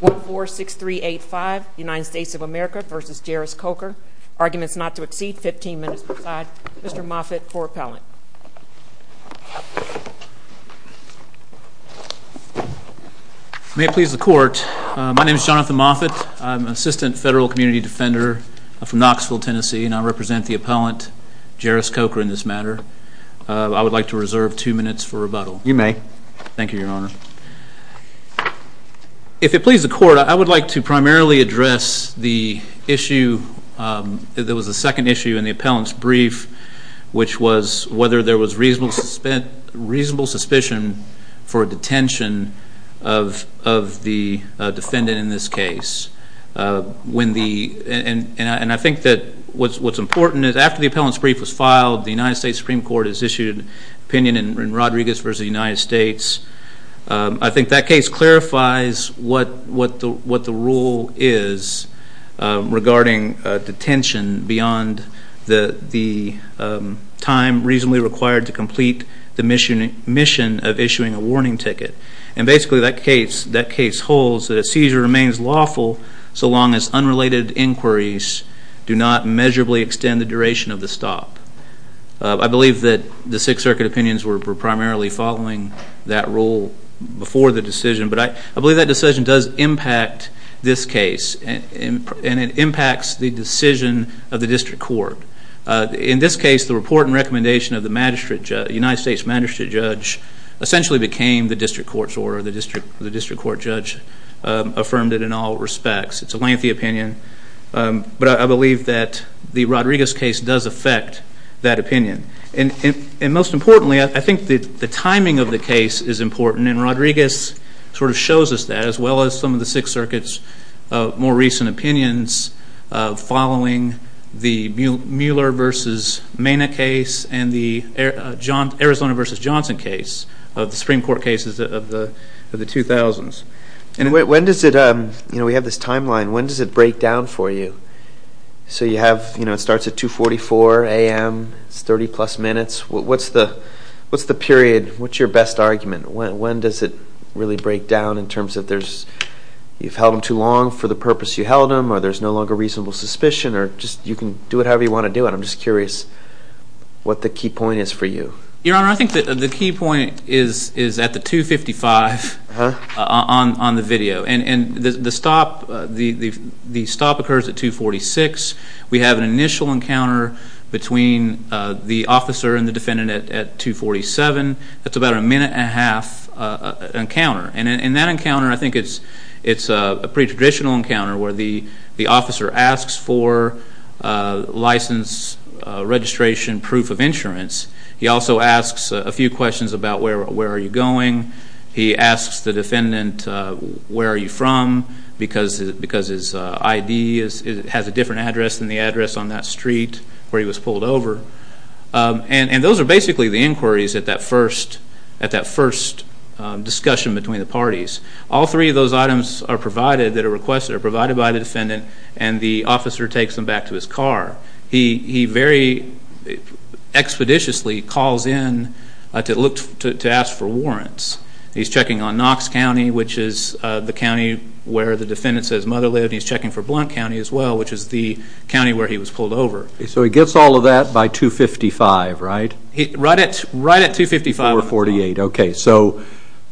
1-4-6-3-8-5 United States of America v. Jairus Coker Arguments not to exceed 15 minutes per side Mr. Moffitt for appellant May it please the court my name is Jonathan Moffitt I'm an assistant federal community defender from Knoxville Tennessee and I represent the appellant Jairus Coker in this matter you may thank you your honor if it please the court I would like to primarily address the issue there was a second issue in the appellant's brief which was whether there was reasonable suspicion for a detention of the defendant in this case when the and and I think that what's what's important is after the appellant's brief was filed the United States Supreme Court has I think that case clarifies what what the what the rule is regarding detention beyond the the time reasonably required to complete the mission mission of issuing a warning ticket and basically that case that case holds that a seizure remains lawful so long as unrelated inquiries do not measurably extend the duration of the stop I believe that the Sixth Circuit opinions were primarily following that rule before the decision but I believe that decision does impact this case and it impacts the decision of the district court in this case the report and recommendation of the magistrate United States magistrate judge essentially became the district court's order the district the district court judge affirmed it in all respects it's a lengthy opinion but I believe that the Rodriguez case does affect that opinion and and most importantly I think that the timing of the case is important and Rodriguez sort of shows us that as well as some of the Sixth Circuit's more recent opinions following the Mueller versus Mena case and the John Arizona versus Johnson case of the Supreme Court cases of the of the 2000s and when does it um you know we have this timeline when does it break down for you so you have you know it starts at 244 a.m. it's 30 plus minutes what's the what's the period what's your best argument when when does it really break down in terms of there's you've held them too long for the purpose you held them or there's no longer reasonable suspicion or just you can do it however you want to do it I'm just curious what the key point is for you your honor I think that the key point is is at the 255 huh on on the video and and the stop the the stop occurs at 246 we have an initial encounter between the officer and the defendant at 247 that's about a minute and a half encounter and in that encounter I think it's it's a pre-traditional encounter where the the officer asks for license registration proof of insurance he also asks a few questions about where where are you going he asks the defendant where are you from because because his ID is it street where he was pulled over and and those are basically the inquiries at that first at that first discussion between the parties all three of those items are provided that are requested are provided by the defendant and the officer takes them back to his car he he very expeditiously calls in to look to ask for warrants he's checking on Knox County which is the county where the defendant says mother lived he's checking for Blount County as well which is the county where he was pulled over so he gets all of that by 255 right he read it right at 255 or 48 okay so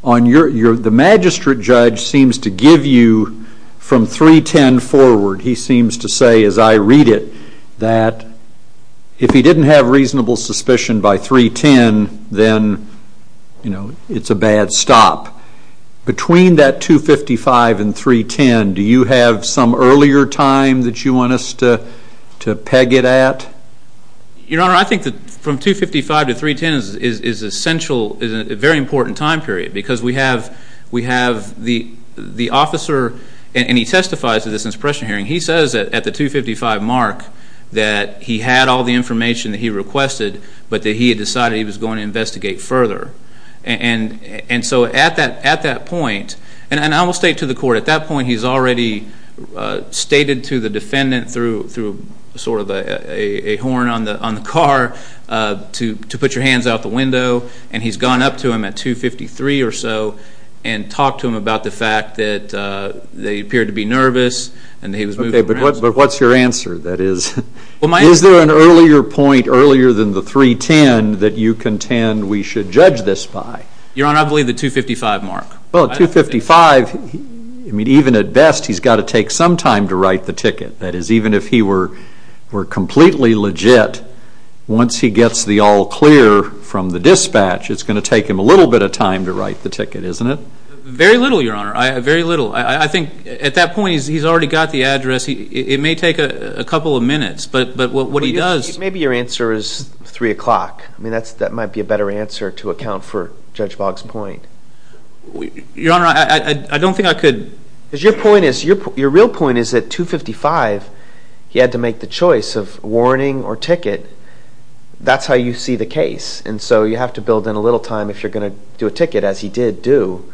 on your your the magistrate judge seems to give you from 310 forward he seems to say as I read it that if he didn't have reasonable suspicion by 310 then you know it's a bad stop between that 255 and 310 do you have some earlier time that you want us to to peg it at your honor I think that from 255 to 310 is is essential is a very important time period because we have we have the the officer and he testifies to this impression hearing he says at the 255 mark that he had all the information he requested but that he decided he was going to investigate further and and so at that at that point and I will state to the court at that point he's already stated to the defendant through through sort of a horn on the on the car to to put your hands out the window and he's gone up to him at 253 or so and talked to him about the fact that they appeared to be nervous and he was okay but what but what's your answer that is well my is there an earlier point earlier than the 310 that you contend we should judge this by your honor I believe the 255 mark well 255 I mean even at best he's got to take some time to write the ticket that is even if he were were completely legit once he gets the all clear from the dispatch it's going to take him a little bit of time to write the ticket isn't it very little your honor I very little I think at that point he's already got the address he it may take a couple of minutes but but what he does maybe your answer is three o'clock I mean that's that might be a better answer to account for judge Boggs point we your honor I don't think I could as your point is your your real point is that 255 he had to make the choice of warning or ticket that's how you see the case and so you have to build in a little time if you're going to do a ticket as he did do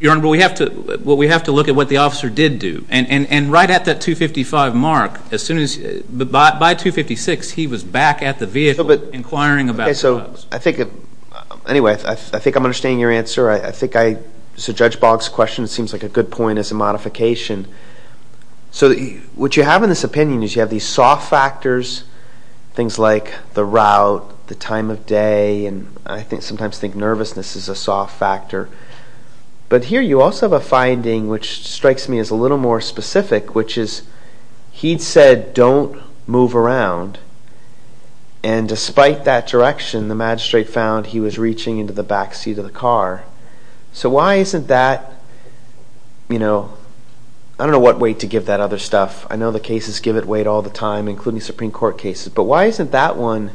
your number we have to what we have to look at what the officer did do and and and right at that 255 mark as soon as the bought by 256 he was back at the vehicle but inquiring about so I think anyway I think I'm understanding your answer I think I so judge Boggs question seems like a good point as a modification so what you have in this opinion is you have these soft factors things like the route the time of day and I think sometimes think nervousness is a soft factor but here you also have a finding which strikes me as a little more specific which is he said don't move around and despite that direction the magistrate found he was reaching into the backseat of the car so why isn't that you know I don't know what way to give that other stuff I know the cases give it wait all the time including Supreme Court cases but why isn't that one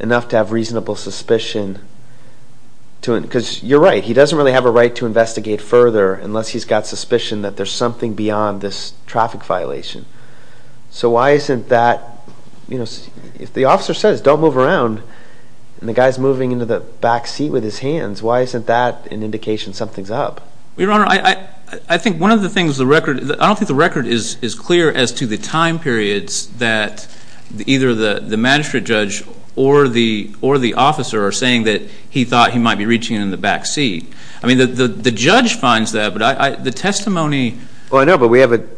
enough to have reasonable suspicion to it because you're right he doesn't really have a right to investigate further unless he's got suspicion that there's something beyond this traffic violation so why isn't that you know if the officer says don't move around and the guys moving into the backseat with his hands why isn't that an indication something's up your honor I I think one of the things the record I don't think the record is is clear as to the time periods that either the the magistrate judge or the or the officer are saying that he thought he might be reaching in the backseat I mean the the judge finds that but I the testimony well I know but we have it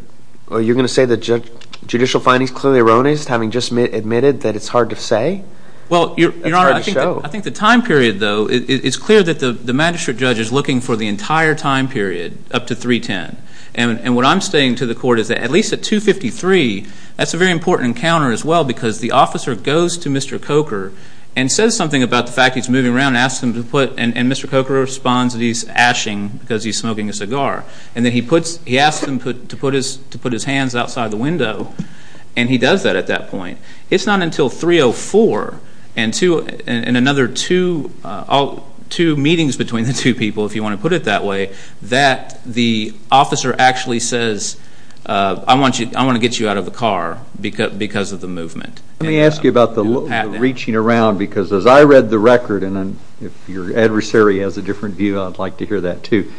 are you gonna say the judge judicial findings clearly erroneous having just admitted that it's hard to say well I think the time period though it's clear that the the magistrate judge is looking for the entire time period up to 310 and and what I'm saying to the court is that at least at 253 that's a very important encounter as well because the officer goes to mr. Coker and says something about the fact he's moving around asked him to put and mr. Coker responds that he's ashing because he's smoking a cigar and then he puts he asked him put to put his to put his hands outside the window and he does that at that point it's not until 304 and two and another two all two meetings between the two people if you want to put it that way that the officer actually says I want you I want to get you out of the car because because of the movement let me ask you about the reaching around because as I read the record and then if your adversary has a different view I'd like to hear that too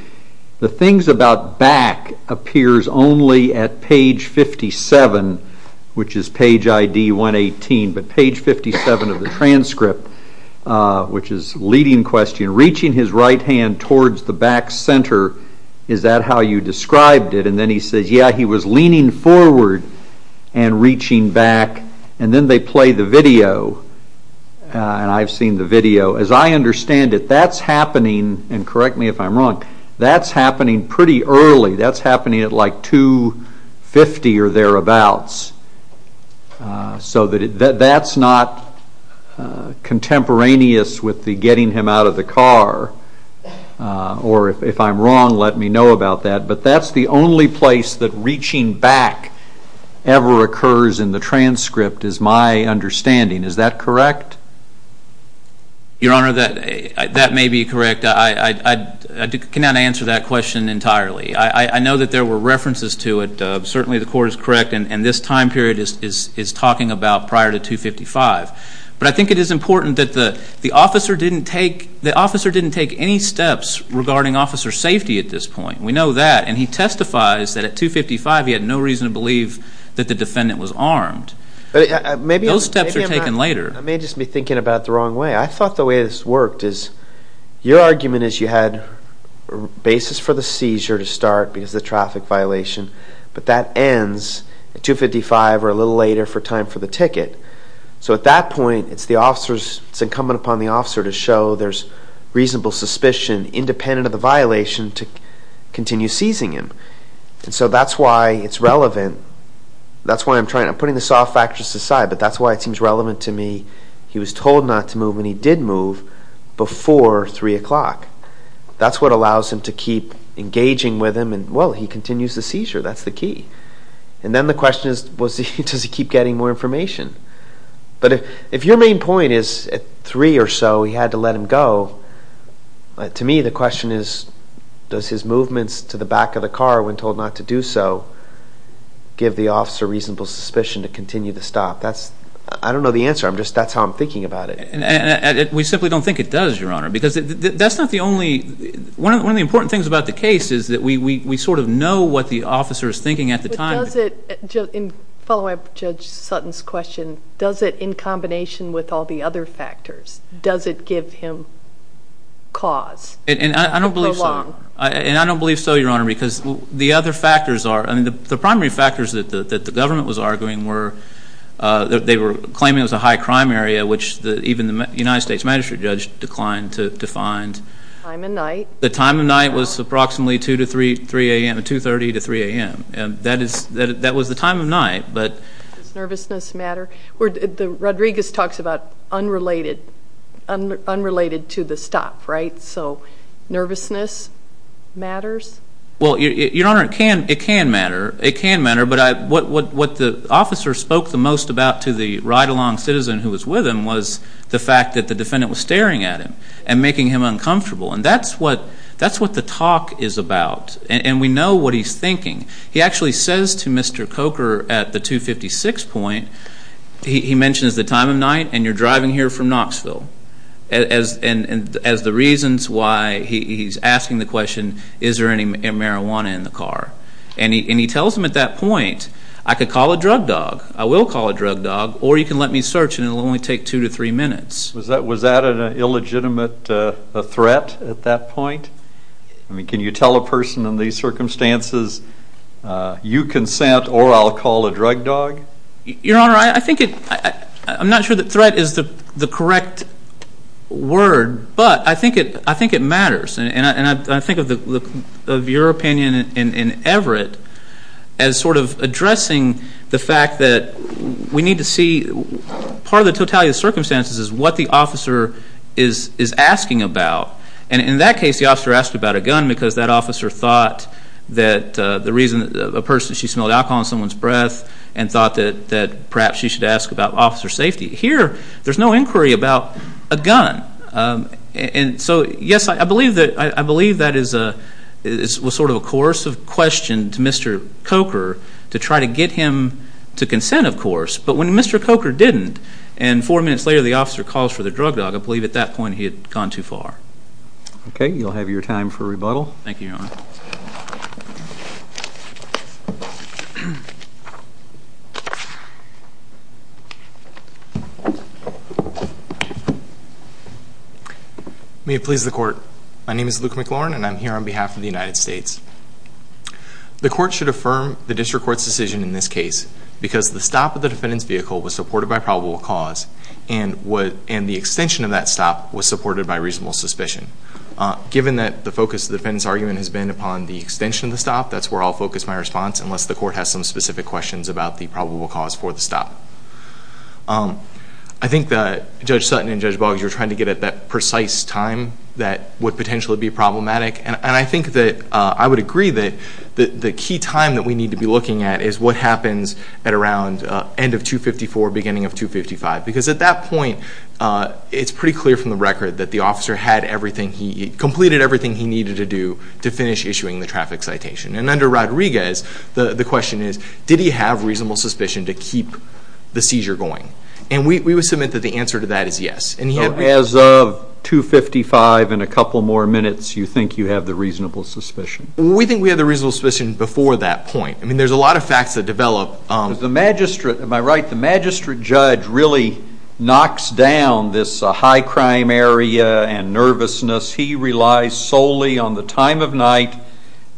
the things about back appears only at page 57 which is page ID 118 but page 57 of the transcript which is leading question reaching his right hand towards the back center is that how you described it and then he says yeah he was leaning forward and reaching back and then they play the video and I've seen the video as I understand it that's happening and correct me if I'm wrong that's happening pretty early that's happening at like 250 or thereabouts so that that's not contemporaneous with the getting him out of the car or if I'm wrong let me know about that but that's the only place that reaching back ever occurs in the that may be correct I cannot answer that question entirely I I know that there were references to it certainly the court is correct and this time period is talking about prior to 255 but I think it is important that the officer didn't take the officer didn't take any steps regarding officer safety at this point we know that and he testifies that at 255 he had no reason to believe that the defendant was armed but maybe those steps are taken later I may just be your argument is you had basis for the seizure to start because the traffic violation but that ends at 255 or a little later for time for the ticket so at that point it's the officers incumbent upon the officer to show there's reasonable suspicion independent of the violation to continue seizing him so that's why it's relevant that's why I'm trying to putting the soft factors aside but that's why it seems relevant to me he was told not to move and he did move before three o'clock that's what allows him to keep engaging with him and well he continues the seizure that's the key and then the question is was he does he keep getting more information but if if your main point is at three or so he had to let him go to me the question is does his movements to the back of the car when told not to do so give the officer reasonable suspicion to continue to stop that's I don't know the answer I'm just that's how I'm thinking about it and we simply don't think it does your honor because that's not the only one of the important things about the case is that we we sort of know what the officer is thinking at the time does it just in follow-up judge Sutton's question does it in combination with all the other factors does it give him cause and I don't believe so I and I don't believe so your honor because the other factors are and the primary factors that the government was arguing were that they were claiming was a high crime area which the even the United States magistrate judge declined to defined I'm a night the time of night was approximately 2 to 3 3 a.m. to 30 to 3 a.m. and that is that that was the time of night but nervousness matter where did the Rodriguez talks about unrelated unrelated to the stop right so nervousness matters well your honor it can it can matter it can matter but I what what what the officer spoke the most about to the ride-along citizen who was with him was the fact that the defendant was staring at him and making him uncomfortable and that's what that's what the talk is about and we know what he's thinking he actually says to mr. Coker at the 256 point he mentions the time of night and you're driving here from Knoxville as and as the reasons why he's asking the question is there any marijuana in the car and he tells him at that point I could call a drug dog I will call a drug dog or you can let me search and it'll only take two to three minutes was that was that an illegitimate threat at that point I mean can you tell a person in these circumstances you consent or I'll call a drug dog your honor I think it I'm not sure that threat is the the correct word but I think it I think it matters and I think of the look of your opinion in Everett as sort of addressing the fact that we need to see part of the totality of circumstances is what the officer is is asking about and in that case the officer asked about a gun because that officer thought that the reason a person she smelled alcohol in someone's breath and thought that that perhaps she should ask about officer safety here there's no inquiry about a gun and so yes I believe that I believe that is a it was sort of a course of question to mr. Coker to try to get him to consent of course but when mr. Coker didn't and four minutes later the officer calls for the drug dog I believe at that point he had gone too far okay you'll have your time for rebuttal thank you may it please the court my name is Luke McLaurin and I'm the court should affirm the district court's decision in this case because the stop of the defendant's vehicle was supported by probable cause and what and the extension of that stop was supported by reasonable suspicion given that the focus the defendants argument has been upon the extension of the stop that's where I'll focus my response unless the court has some specific questions about the probable cause for the stop I think that judge Sutton and judge Boggs you're trying to get at that precise time that would potentially be problematic and I think that I would agree that the key time that we need to be looking at is what happens at around end of 254 beginning of 255 because at that point it's pretty clear from the record that the officer had everything he completed everything he needed to do to finish issuing the traffic citation and under Rodriguez the the question is did he have reasonable suspicion to keep the seizure going and we would submit that the answer to that is yes and yet as of 255 in a couple more minutes you think you have the reasonable suspicion we think we have the reasonable suspicion before that point I mean there's a lot of facts that develop the magistrate am I right the magistrate judge really knocks down this high crime area and nervousness he relies solely on the time of night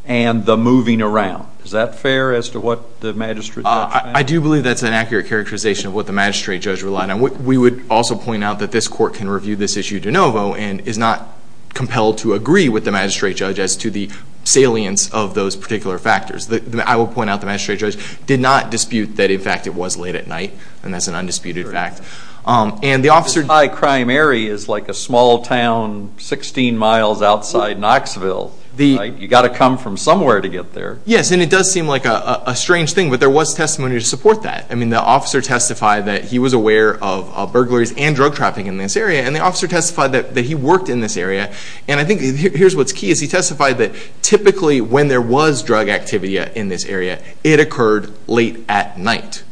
and the moving around is that fair as to what the magistrate I do believe that's an accurate characterization of what the magistrate judge relied on what we would also point out that this court can review this issue de novo and is not compelled to agree with the magistrate judge as to the salience of those particular factors that I will point out the magistrate judge did not dispute that in fact it was late at night and that's an undisputed fact and the officer high crime area is like a small town 16 miles outside Knoxville the you got to come from somewhere to get there yes and it does seem like a strange thing but there was testimony to support that I mean the officer testified that he was aware of burglaries and drug trafficking in this area he testified that he worked in this area and I think here's what's key is he testified that typically when there was drug activity in this area it occurred late at night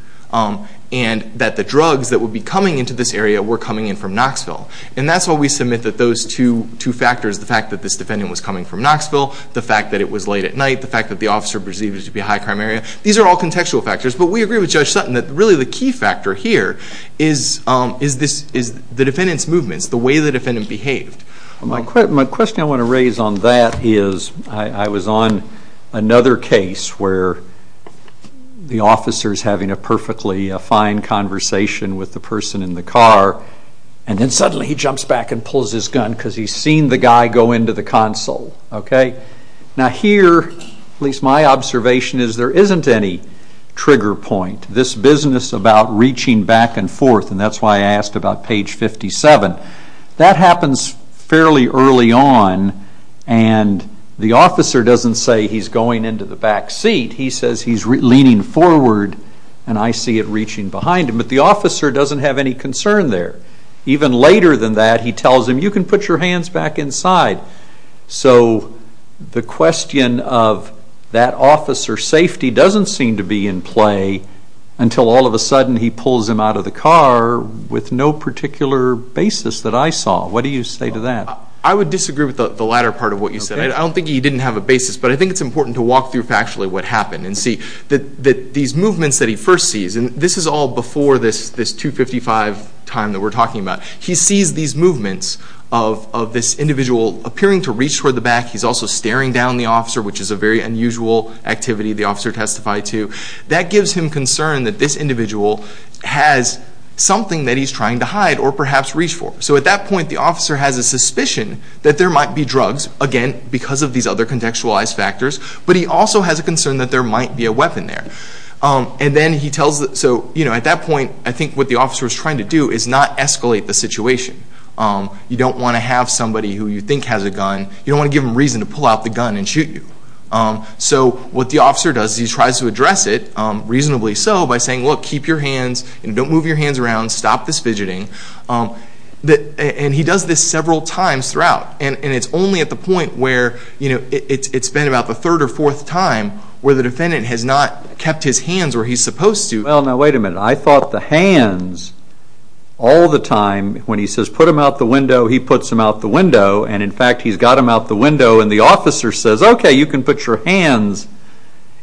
and that the drugs that would be coming into this area were coming in from Knoxville and that's what we submit that those two two factors the fact that this defendant was coming from Knoxville the fact that it was late at night the fact that the officer perceives to be a high crime area these are all contextual factors but we agree with judge Sutton that really the key factor here is is this is the defendants movements the way the defendant behaved my question my question I want to raise on that is I was on another case where the officers having a perfectly fine conversation with the person in the car and then suddenly he jumps back and pulls his gun because he's seen the guy go into the console okay now here at least my trigger point this business about reaching back and forth and that's why I asked about page 57 that happens fairly early on and the officer doesn't say he's going into the back seat he says he's leaning forward and I see it reaching behind him but the officer doesn't have any concern there even later than that he tells him you can put your hands back inside so the question of that officer safety doesn't seem to be in play until all of a sudden he pulls him out of the car with no particular basis that I saw what do you say to that I would disagree with the latter part of what you said I don't think he didn't have a basis but I think it's important to walk through factually what happened and see that that these movements that he first sees and this is all before this this 255 time that we're talking about he sees these movements of this individual appearing to reach for the back he's also staring down the officer which is a very unusual activity the officer testified to that gives him concern that this individual has something that he's trying to hide or perhaps reach for so at that point the officer has a suspicion that there might be drugs again because of these other contextualized factors but he also has a concern that there might be a weapon there and then he tells that so you know at that point I think what the officer is trying to do is not escalate the situation you don't want to have pull out the gun and shoot you so what the officer does he tries to address it reasonably so by saying look keep your hands and don't move your hands around stop this fidgeting that and he does this several times throughout and it's only at the point where you know it's been about the third or fourth time where the defendant has not kept his hands where he's supposed to well now wait a minute I thought the hands all the time when he says put him out the window he puts him out the window and in fact he's got him out the window and the officer says okay you can put your hands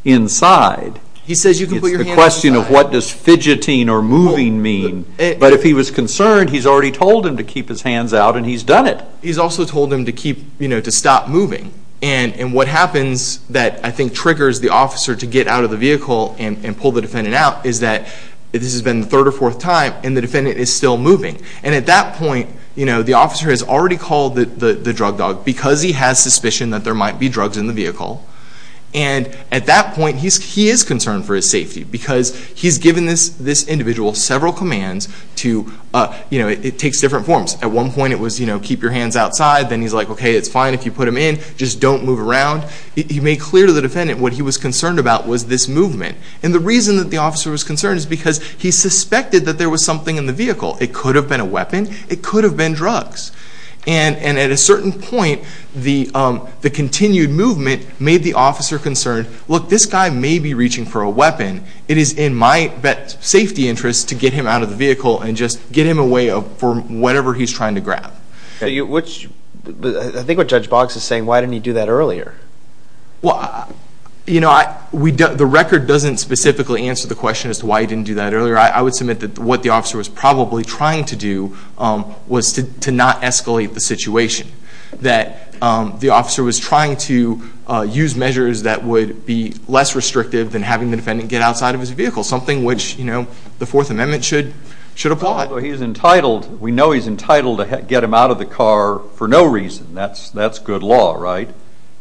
inside he says you can put your question of what does fidgeting or moving mean but if he was concerned he's already told him to keep his hands out and he's done it he's also told him to keep you know to stop moving and and what happens that I think triggers the officer to get out of the vehicle and pull the defendant out is that this has been the third or fourth time and the defendant is still moving and at that point you know the officer has already called the the drug dog because he has suspicion that there might be drugs in the vehicle and at that point he's he is concerned for his safety because he's given this this individual several commands to you know it takes different forms at one point it was you know keep your hands outside then he's like okay it's fine if you put him in just don't move around he made clear to the defendant what he was concerned about was this movement and the reason that the officer was concerned is because he suspected that there was something in the vehicle it could have been a weapon it could have been drugs and and at a certain point the the continued movement made the officer concerned look this guy may be reaching for a weapon it is in my bet safety interest to get him out of the vehicle and just get him away up for whatever he's trying to grab you which I think what judge box is saying why didn't he do that earlier well you know I we don't the record doesn't specifically answer the question as to why I didn't do that earlier I would submit that what the officer was probably trying to do was to not escalate the situation that the officer was trying to use measures that would be less restrictive than having the defendant get outside of his vehicle something which you know the Fourth Amendment should should apply he's entitled we know he's entitled to get him out of the car for no reason that's that's good law right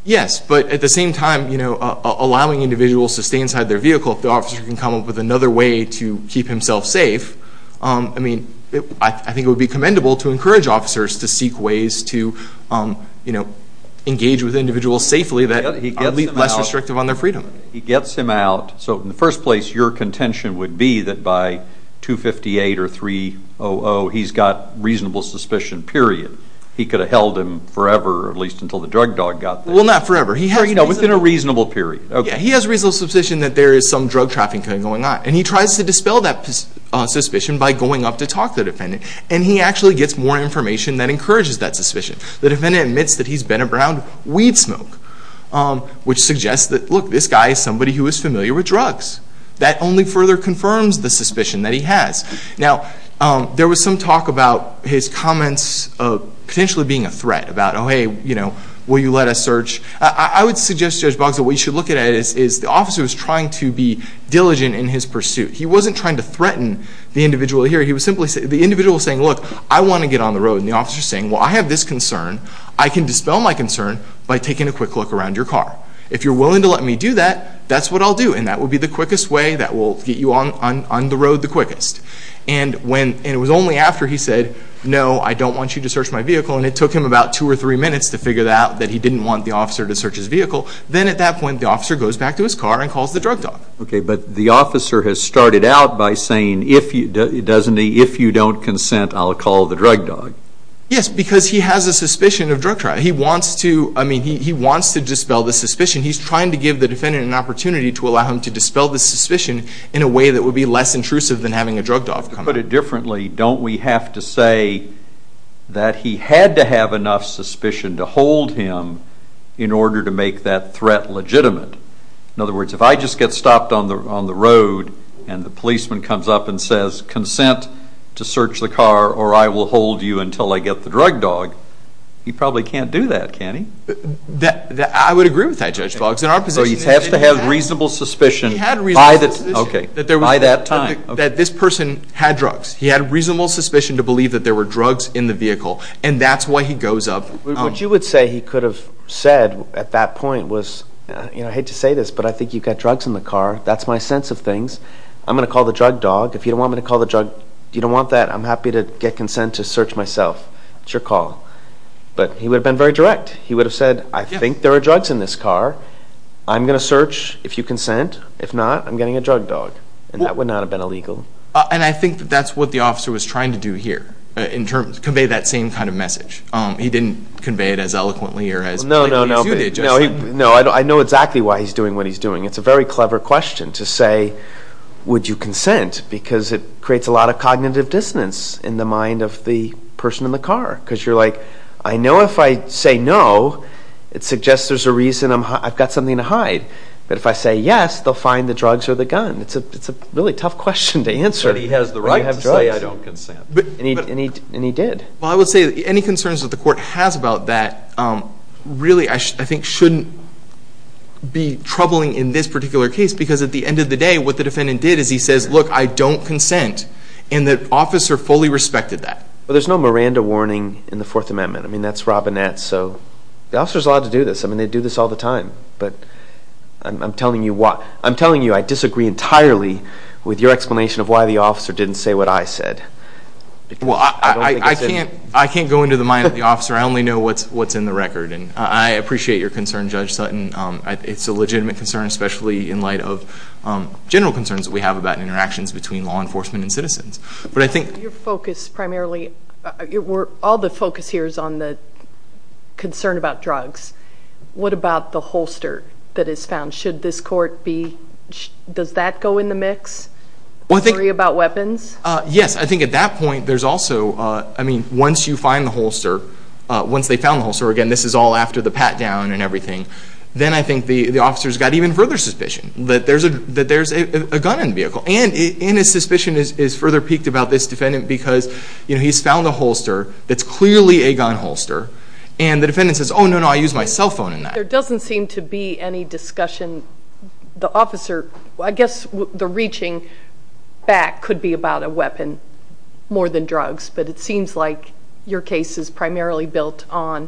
yes but at the same time you know allowing individuals to stay inside their vehicle if the officer can come up with another way to keep himself safe I mean I think it would be commendable to encourage officers to seek ways to you know engage with individuals safely that he can be less restrictive on their freedom he gets him out so in the first place your contention would be that by 258 or 300 he's got reasonable suspicion period he could have held him forever at least until the drug dog got well not forever he heard you know within a reasonable period okay he has reasonable suspicion that there is some drug trafficking going on and he tries to dispel that suspicion by going up to talk to the defendant and he actually gets more information that encourages that suspicion the defendant admits that he's been around weed smoke which suggests that look this guy is somebody who is familiar with drugs that only further confirms the suspicion that he has now there was some talk about his comments of potentially being a threat about oh hey you know will you let us search I would suggest judge Boggs that we should look at it is the officer was trying to be diligent in his pursuit he wasn't trying to threaten the individual here he was simply say the individual saying look I want to get on the road and the officer saying well I have this concern I can dispel my concern by taking a quick look around your car if you're willing to let me do that that's what I'll do and that would be the quickest way that will get you on on the road the quickest and when it was only after he said no I don't want you to search my vehicle and it took him about two or three minutes to figure that out that he didn't want the officer to search his vehicle then at that point the officer goes back to his car and by saying if you doesn't he if you don't consent I'll call the drug dog yes because he has a suspicion of drug trial he wants to I mean he wants to dispel the suspicion he's trying to give the defendant an opportunity to allow him to dispel the suspicion in a way that would be less intrusive than having a drug dog put it differently don't we have to say that he had to have enough suspicion to hold him in order to make that threat legitimate in other words if I just get stopped on the on the road and the policeman comes up and says consent to search the car or I will hold you until I get the drug dog you probably can't do that can he that I would agree with that judge Boggs in our position you have to have reasonable suspicion by that okay that there was by that time that this person had drugs he had a reasonable suspicion to believe that there were drugs in the vehicle and that's why he goes up what you would say he could have said at that point was you know I hate to say this but I think you've got drugs in the car that's my sense of things I'm gonna call the drug dog if you don't want me to call the drug you don't want that I'm happy to get consent to search myself it's your call but he would have been very direct he would have said I think there are drugs in this car I'm gonna search if you consent if not I'm getting a drug dog and that would not have been illegal and I think that's what the officer was trying to do here in terms convey that same kind of message he didn't convey it as eloquently or as no no no no I know exactly why he's doing what he's doing it's a very clever question to say would you consent because it creates a lot of cognitive dissonance in the mind of the person in the car because you're like I know if I say no it suggests there's a reason I'm I've got something to hide but if I say yes they'll find the drugs or the gun it's a it's a really tough question to answer he has the right absolutely I don't consent but he did well I would say any concerns that the be troubling in this particular case because at the end of the day what the defendant did is he says look I don't consent and that officer fully respected that well there's no Miranda warning in the Fourth Amendment I mean that's Robinette so the officers allowed to do this I mean they do this all the time but I'm telling you what I'm telling you I disagree entirely with your explanation of why the officer didn't say what I said well I can't I can't go into the mind of the officer I only know what's what's in the record and I appreciate your concern judge Sutton it's a legitimate concern especially in light of general concerns that we have about interactions between law enforcement and citizens but I think your focus primarily it were all the focus here is on the concern about drugs what about the holster that is found should this court be does that go in the mix well they worry about weapons yes I think at that point there's also I mean once you find the holster once they found the holster again this is all after the pat-down and everything then I think the the officers got even further suspicion that there's a that there's a gun in the vehicle and in his suspicion is further piqued about this defendant because you know he's found a holster that's clearly a gun holster and the defendant says oh no no I use my cell phone in that there doesn't seem to be any discussion the officer I guess the reaching back could be about a weapon more than drugs but it seems like your case is primarily built on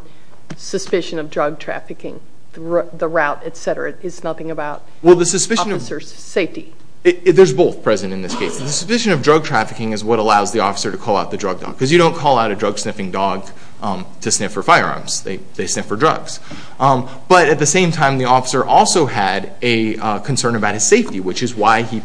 suspicion of drug trafficking the route etc it's nothing about well the suspicion of safety there's both present in this case the suspicion of drug trafficking is what allows the officer to call out the drug dog because you don't call out a drug sniffing dog to sniff for firearms they sniff for drugs but at the same time the officer also had a concern about his safety which is why he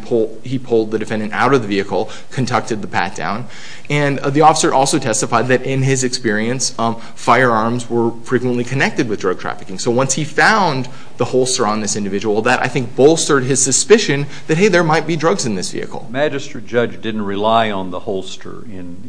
pulled the defendant out of the vehicle conducted the pat-down and the officer also testified that in his experience on firearms were frequently connected with drug trafficking so once he found the holster on this individual that I think bolstered his suspicion that hey there might be drugs in this vehicle magistrate judge didn't rely on the holster in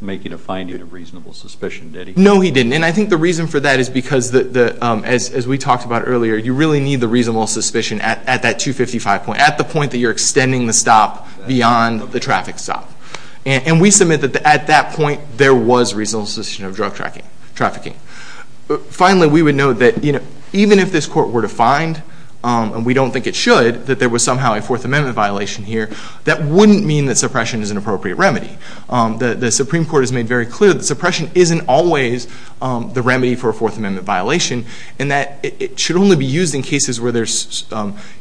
making a finding of reasonable suspicion no he didn't and I think the reason for that is because the as we talked about earlier you really need the reasonable suspicion at that 255 point at the point that you're extending the stop beyond the traffic stop and we submit that at that point there was reasonable suspicion of drug tracking trafficking but finally we would know that you know even if this court were defined and we don't think it should that there was somehow a Fourth Amendment violation here that wouldn't mean that suppression is an appropriate remedy the Supreme Court has made very clear that suppression isn't always the remedy for a Fourth Amendment violation and that it should only be used in cases where there's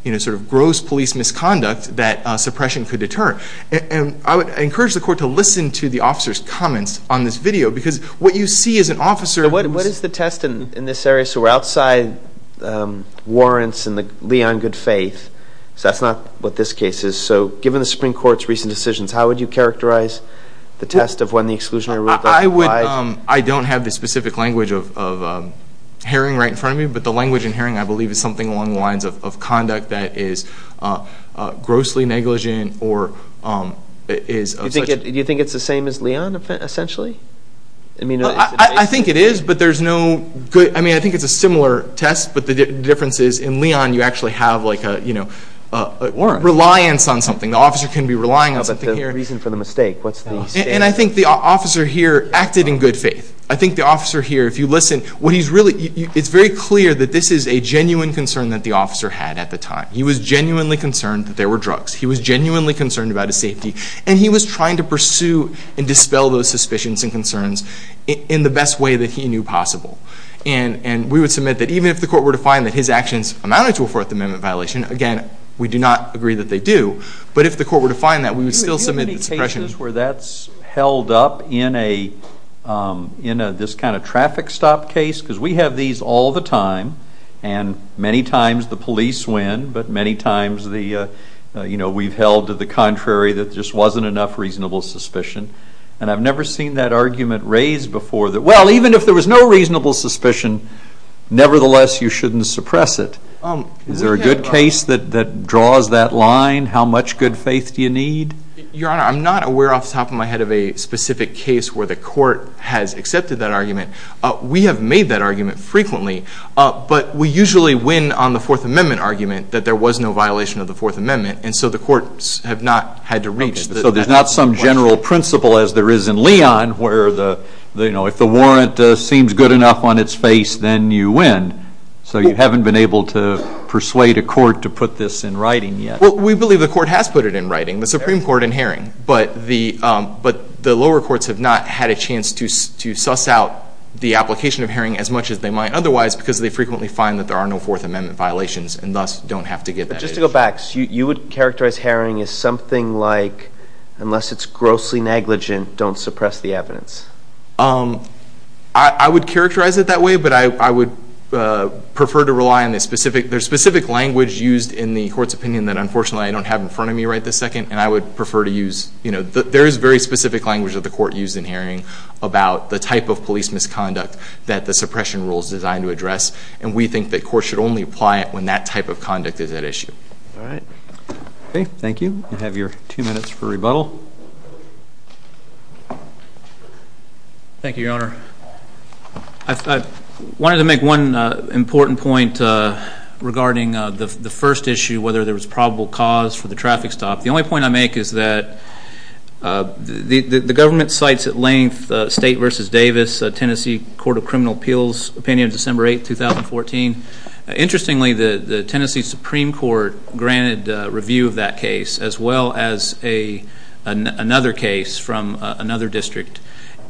you know sort of gross police misconduct that suppression could deter and I would encourage the court to listen to the officers comments on this video because what you see is an officer what is the test in this area so we're outside warrants and the Leon good faith so that's not what this case is so given the Supreme Court's recent decisions how would you characterize the test of when the exclusionary rule I would I don't have the specific language of herring right in front of me but the language in herring I believe is something along the lines of conduct that is grossly negligent or is do you think it's the same as Leon essentially I mean I think it is but there's no good I mean I think it's a similar test but the difference is in Leon you actually have like a you know or reliance on something the officer can be relying on something here reason for the mistake what's and I think the officer here acted in good faith I think the officer here if you listen what he's really it's very clear that this is a genuine concern that the officer had at the time he was genuinely concerned that there were drugs he was genuinely concerned about his safety and he was trying to pursue and dispel those suspicions and concerns in the best way that he knew possible and and we would submit that even if the court were to find that his actions amounted to a Fourth Amendment violation again we do not agree that they do but if the court were to find that we would still submit where that's held up in a you know this kind of traffic stop case because we have these all the time and many times the police win but many times the you know we've held to the contrary that just wasn't enough reasonable suspicion and I've never seen that argument raised before that well even if there was no reasonable suspicion nevertheless you shouldn't suppress it um is there a good case that that draws that line how much good faith do you need your honor I'm not aware off the top of my head of a specific case where the court has accepted that argument we have made that argument frequently but we usually win on the Fourth Amendment argument that there was no violation of the Fourth Amendment and so the courts have not had to reach so there's not some general principle as there is in Leon where the you know if the warrant seems good enough on its face then you win so you haven't been able to persuade a court to put this in writing yet well we believe the court has put it in writing the Supreme Court in herring but the but the lower courts have not had a chance to to suss out the application of herring as much as they might otherwise because they frequently find that there are no Fourth Amendment violations and thus don't have to get just to go back you would characterize herring is something like unless it's grossly negligent don't suppress the evidence um I would characterize it that way but I would prefer to rely on this specific there's specific language used in the court's opinion that unfortunately I don't have in front of me right this second and I would prefer to use you know there is very specific language of the court used in herring about the type of police misconduct that the suppression rules designed to address and we think that court should only apply it when that type of conduct is at issue all right okay thank you you have your two minutes for rebuttal thank you your honor I wanted to make one important point regarding the first issue whether there was probable cause for the traffic stop the only point I make is that the the government sites at length state versus Davis Tennessee Court of Criminal Appeals opinion December 8 2014 interestingly the the Tennessee Supreme Court granted review of that case as well as a another case from another district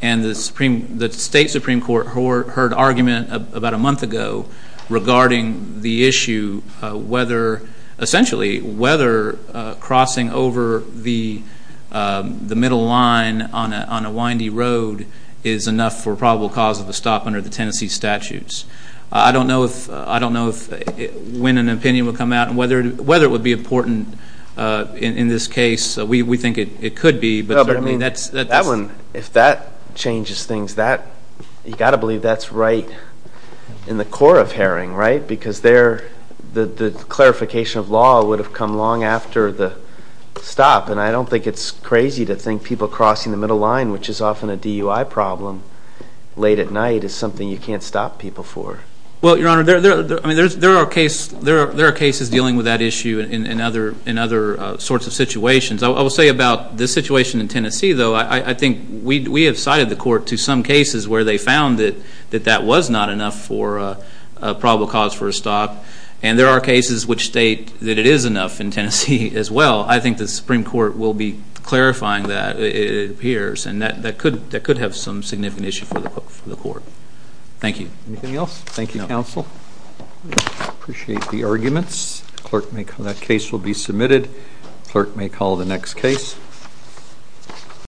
and the supreme the state Supreme Court or heard argument about a month ago regarding the issue whether essentially whether crossing over the the middle line on a windy road is enough for probable cause of the stop under the Tennessee statutes I don't know if I don't know if when an opinion will come out whether whether it would be important in this case we think it could be but I mean that's that one if that changes things that you got to believe that's right in the core of herring right because they're the the clarification of law would have come long after the stop and I don't think it's crazy to think people crossing the middle line which is often a DUI problem late at night is something you can't stop people for well your honor there are cases dealing with that issue in another in other sorts of situations I will say about this situation in Tennessee though I think we have cited the court to some cases where they found it that that was not enough for probable cause for a stop and there are cases which state that it is enough in Tennessee as well I think the Supreme Court will be clarifying that it appears and that that could that could have some significant issue for the court thank you anything else Thank You counsel appreciate the arguments clerk may come that case will be submitted clerk may call the next case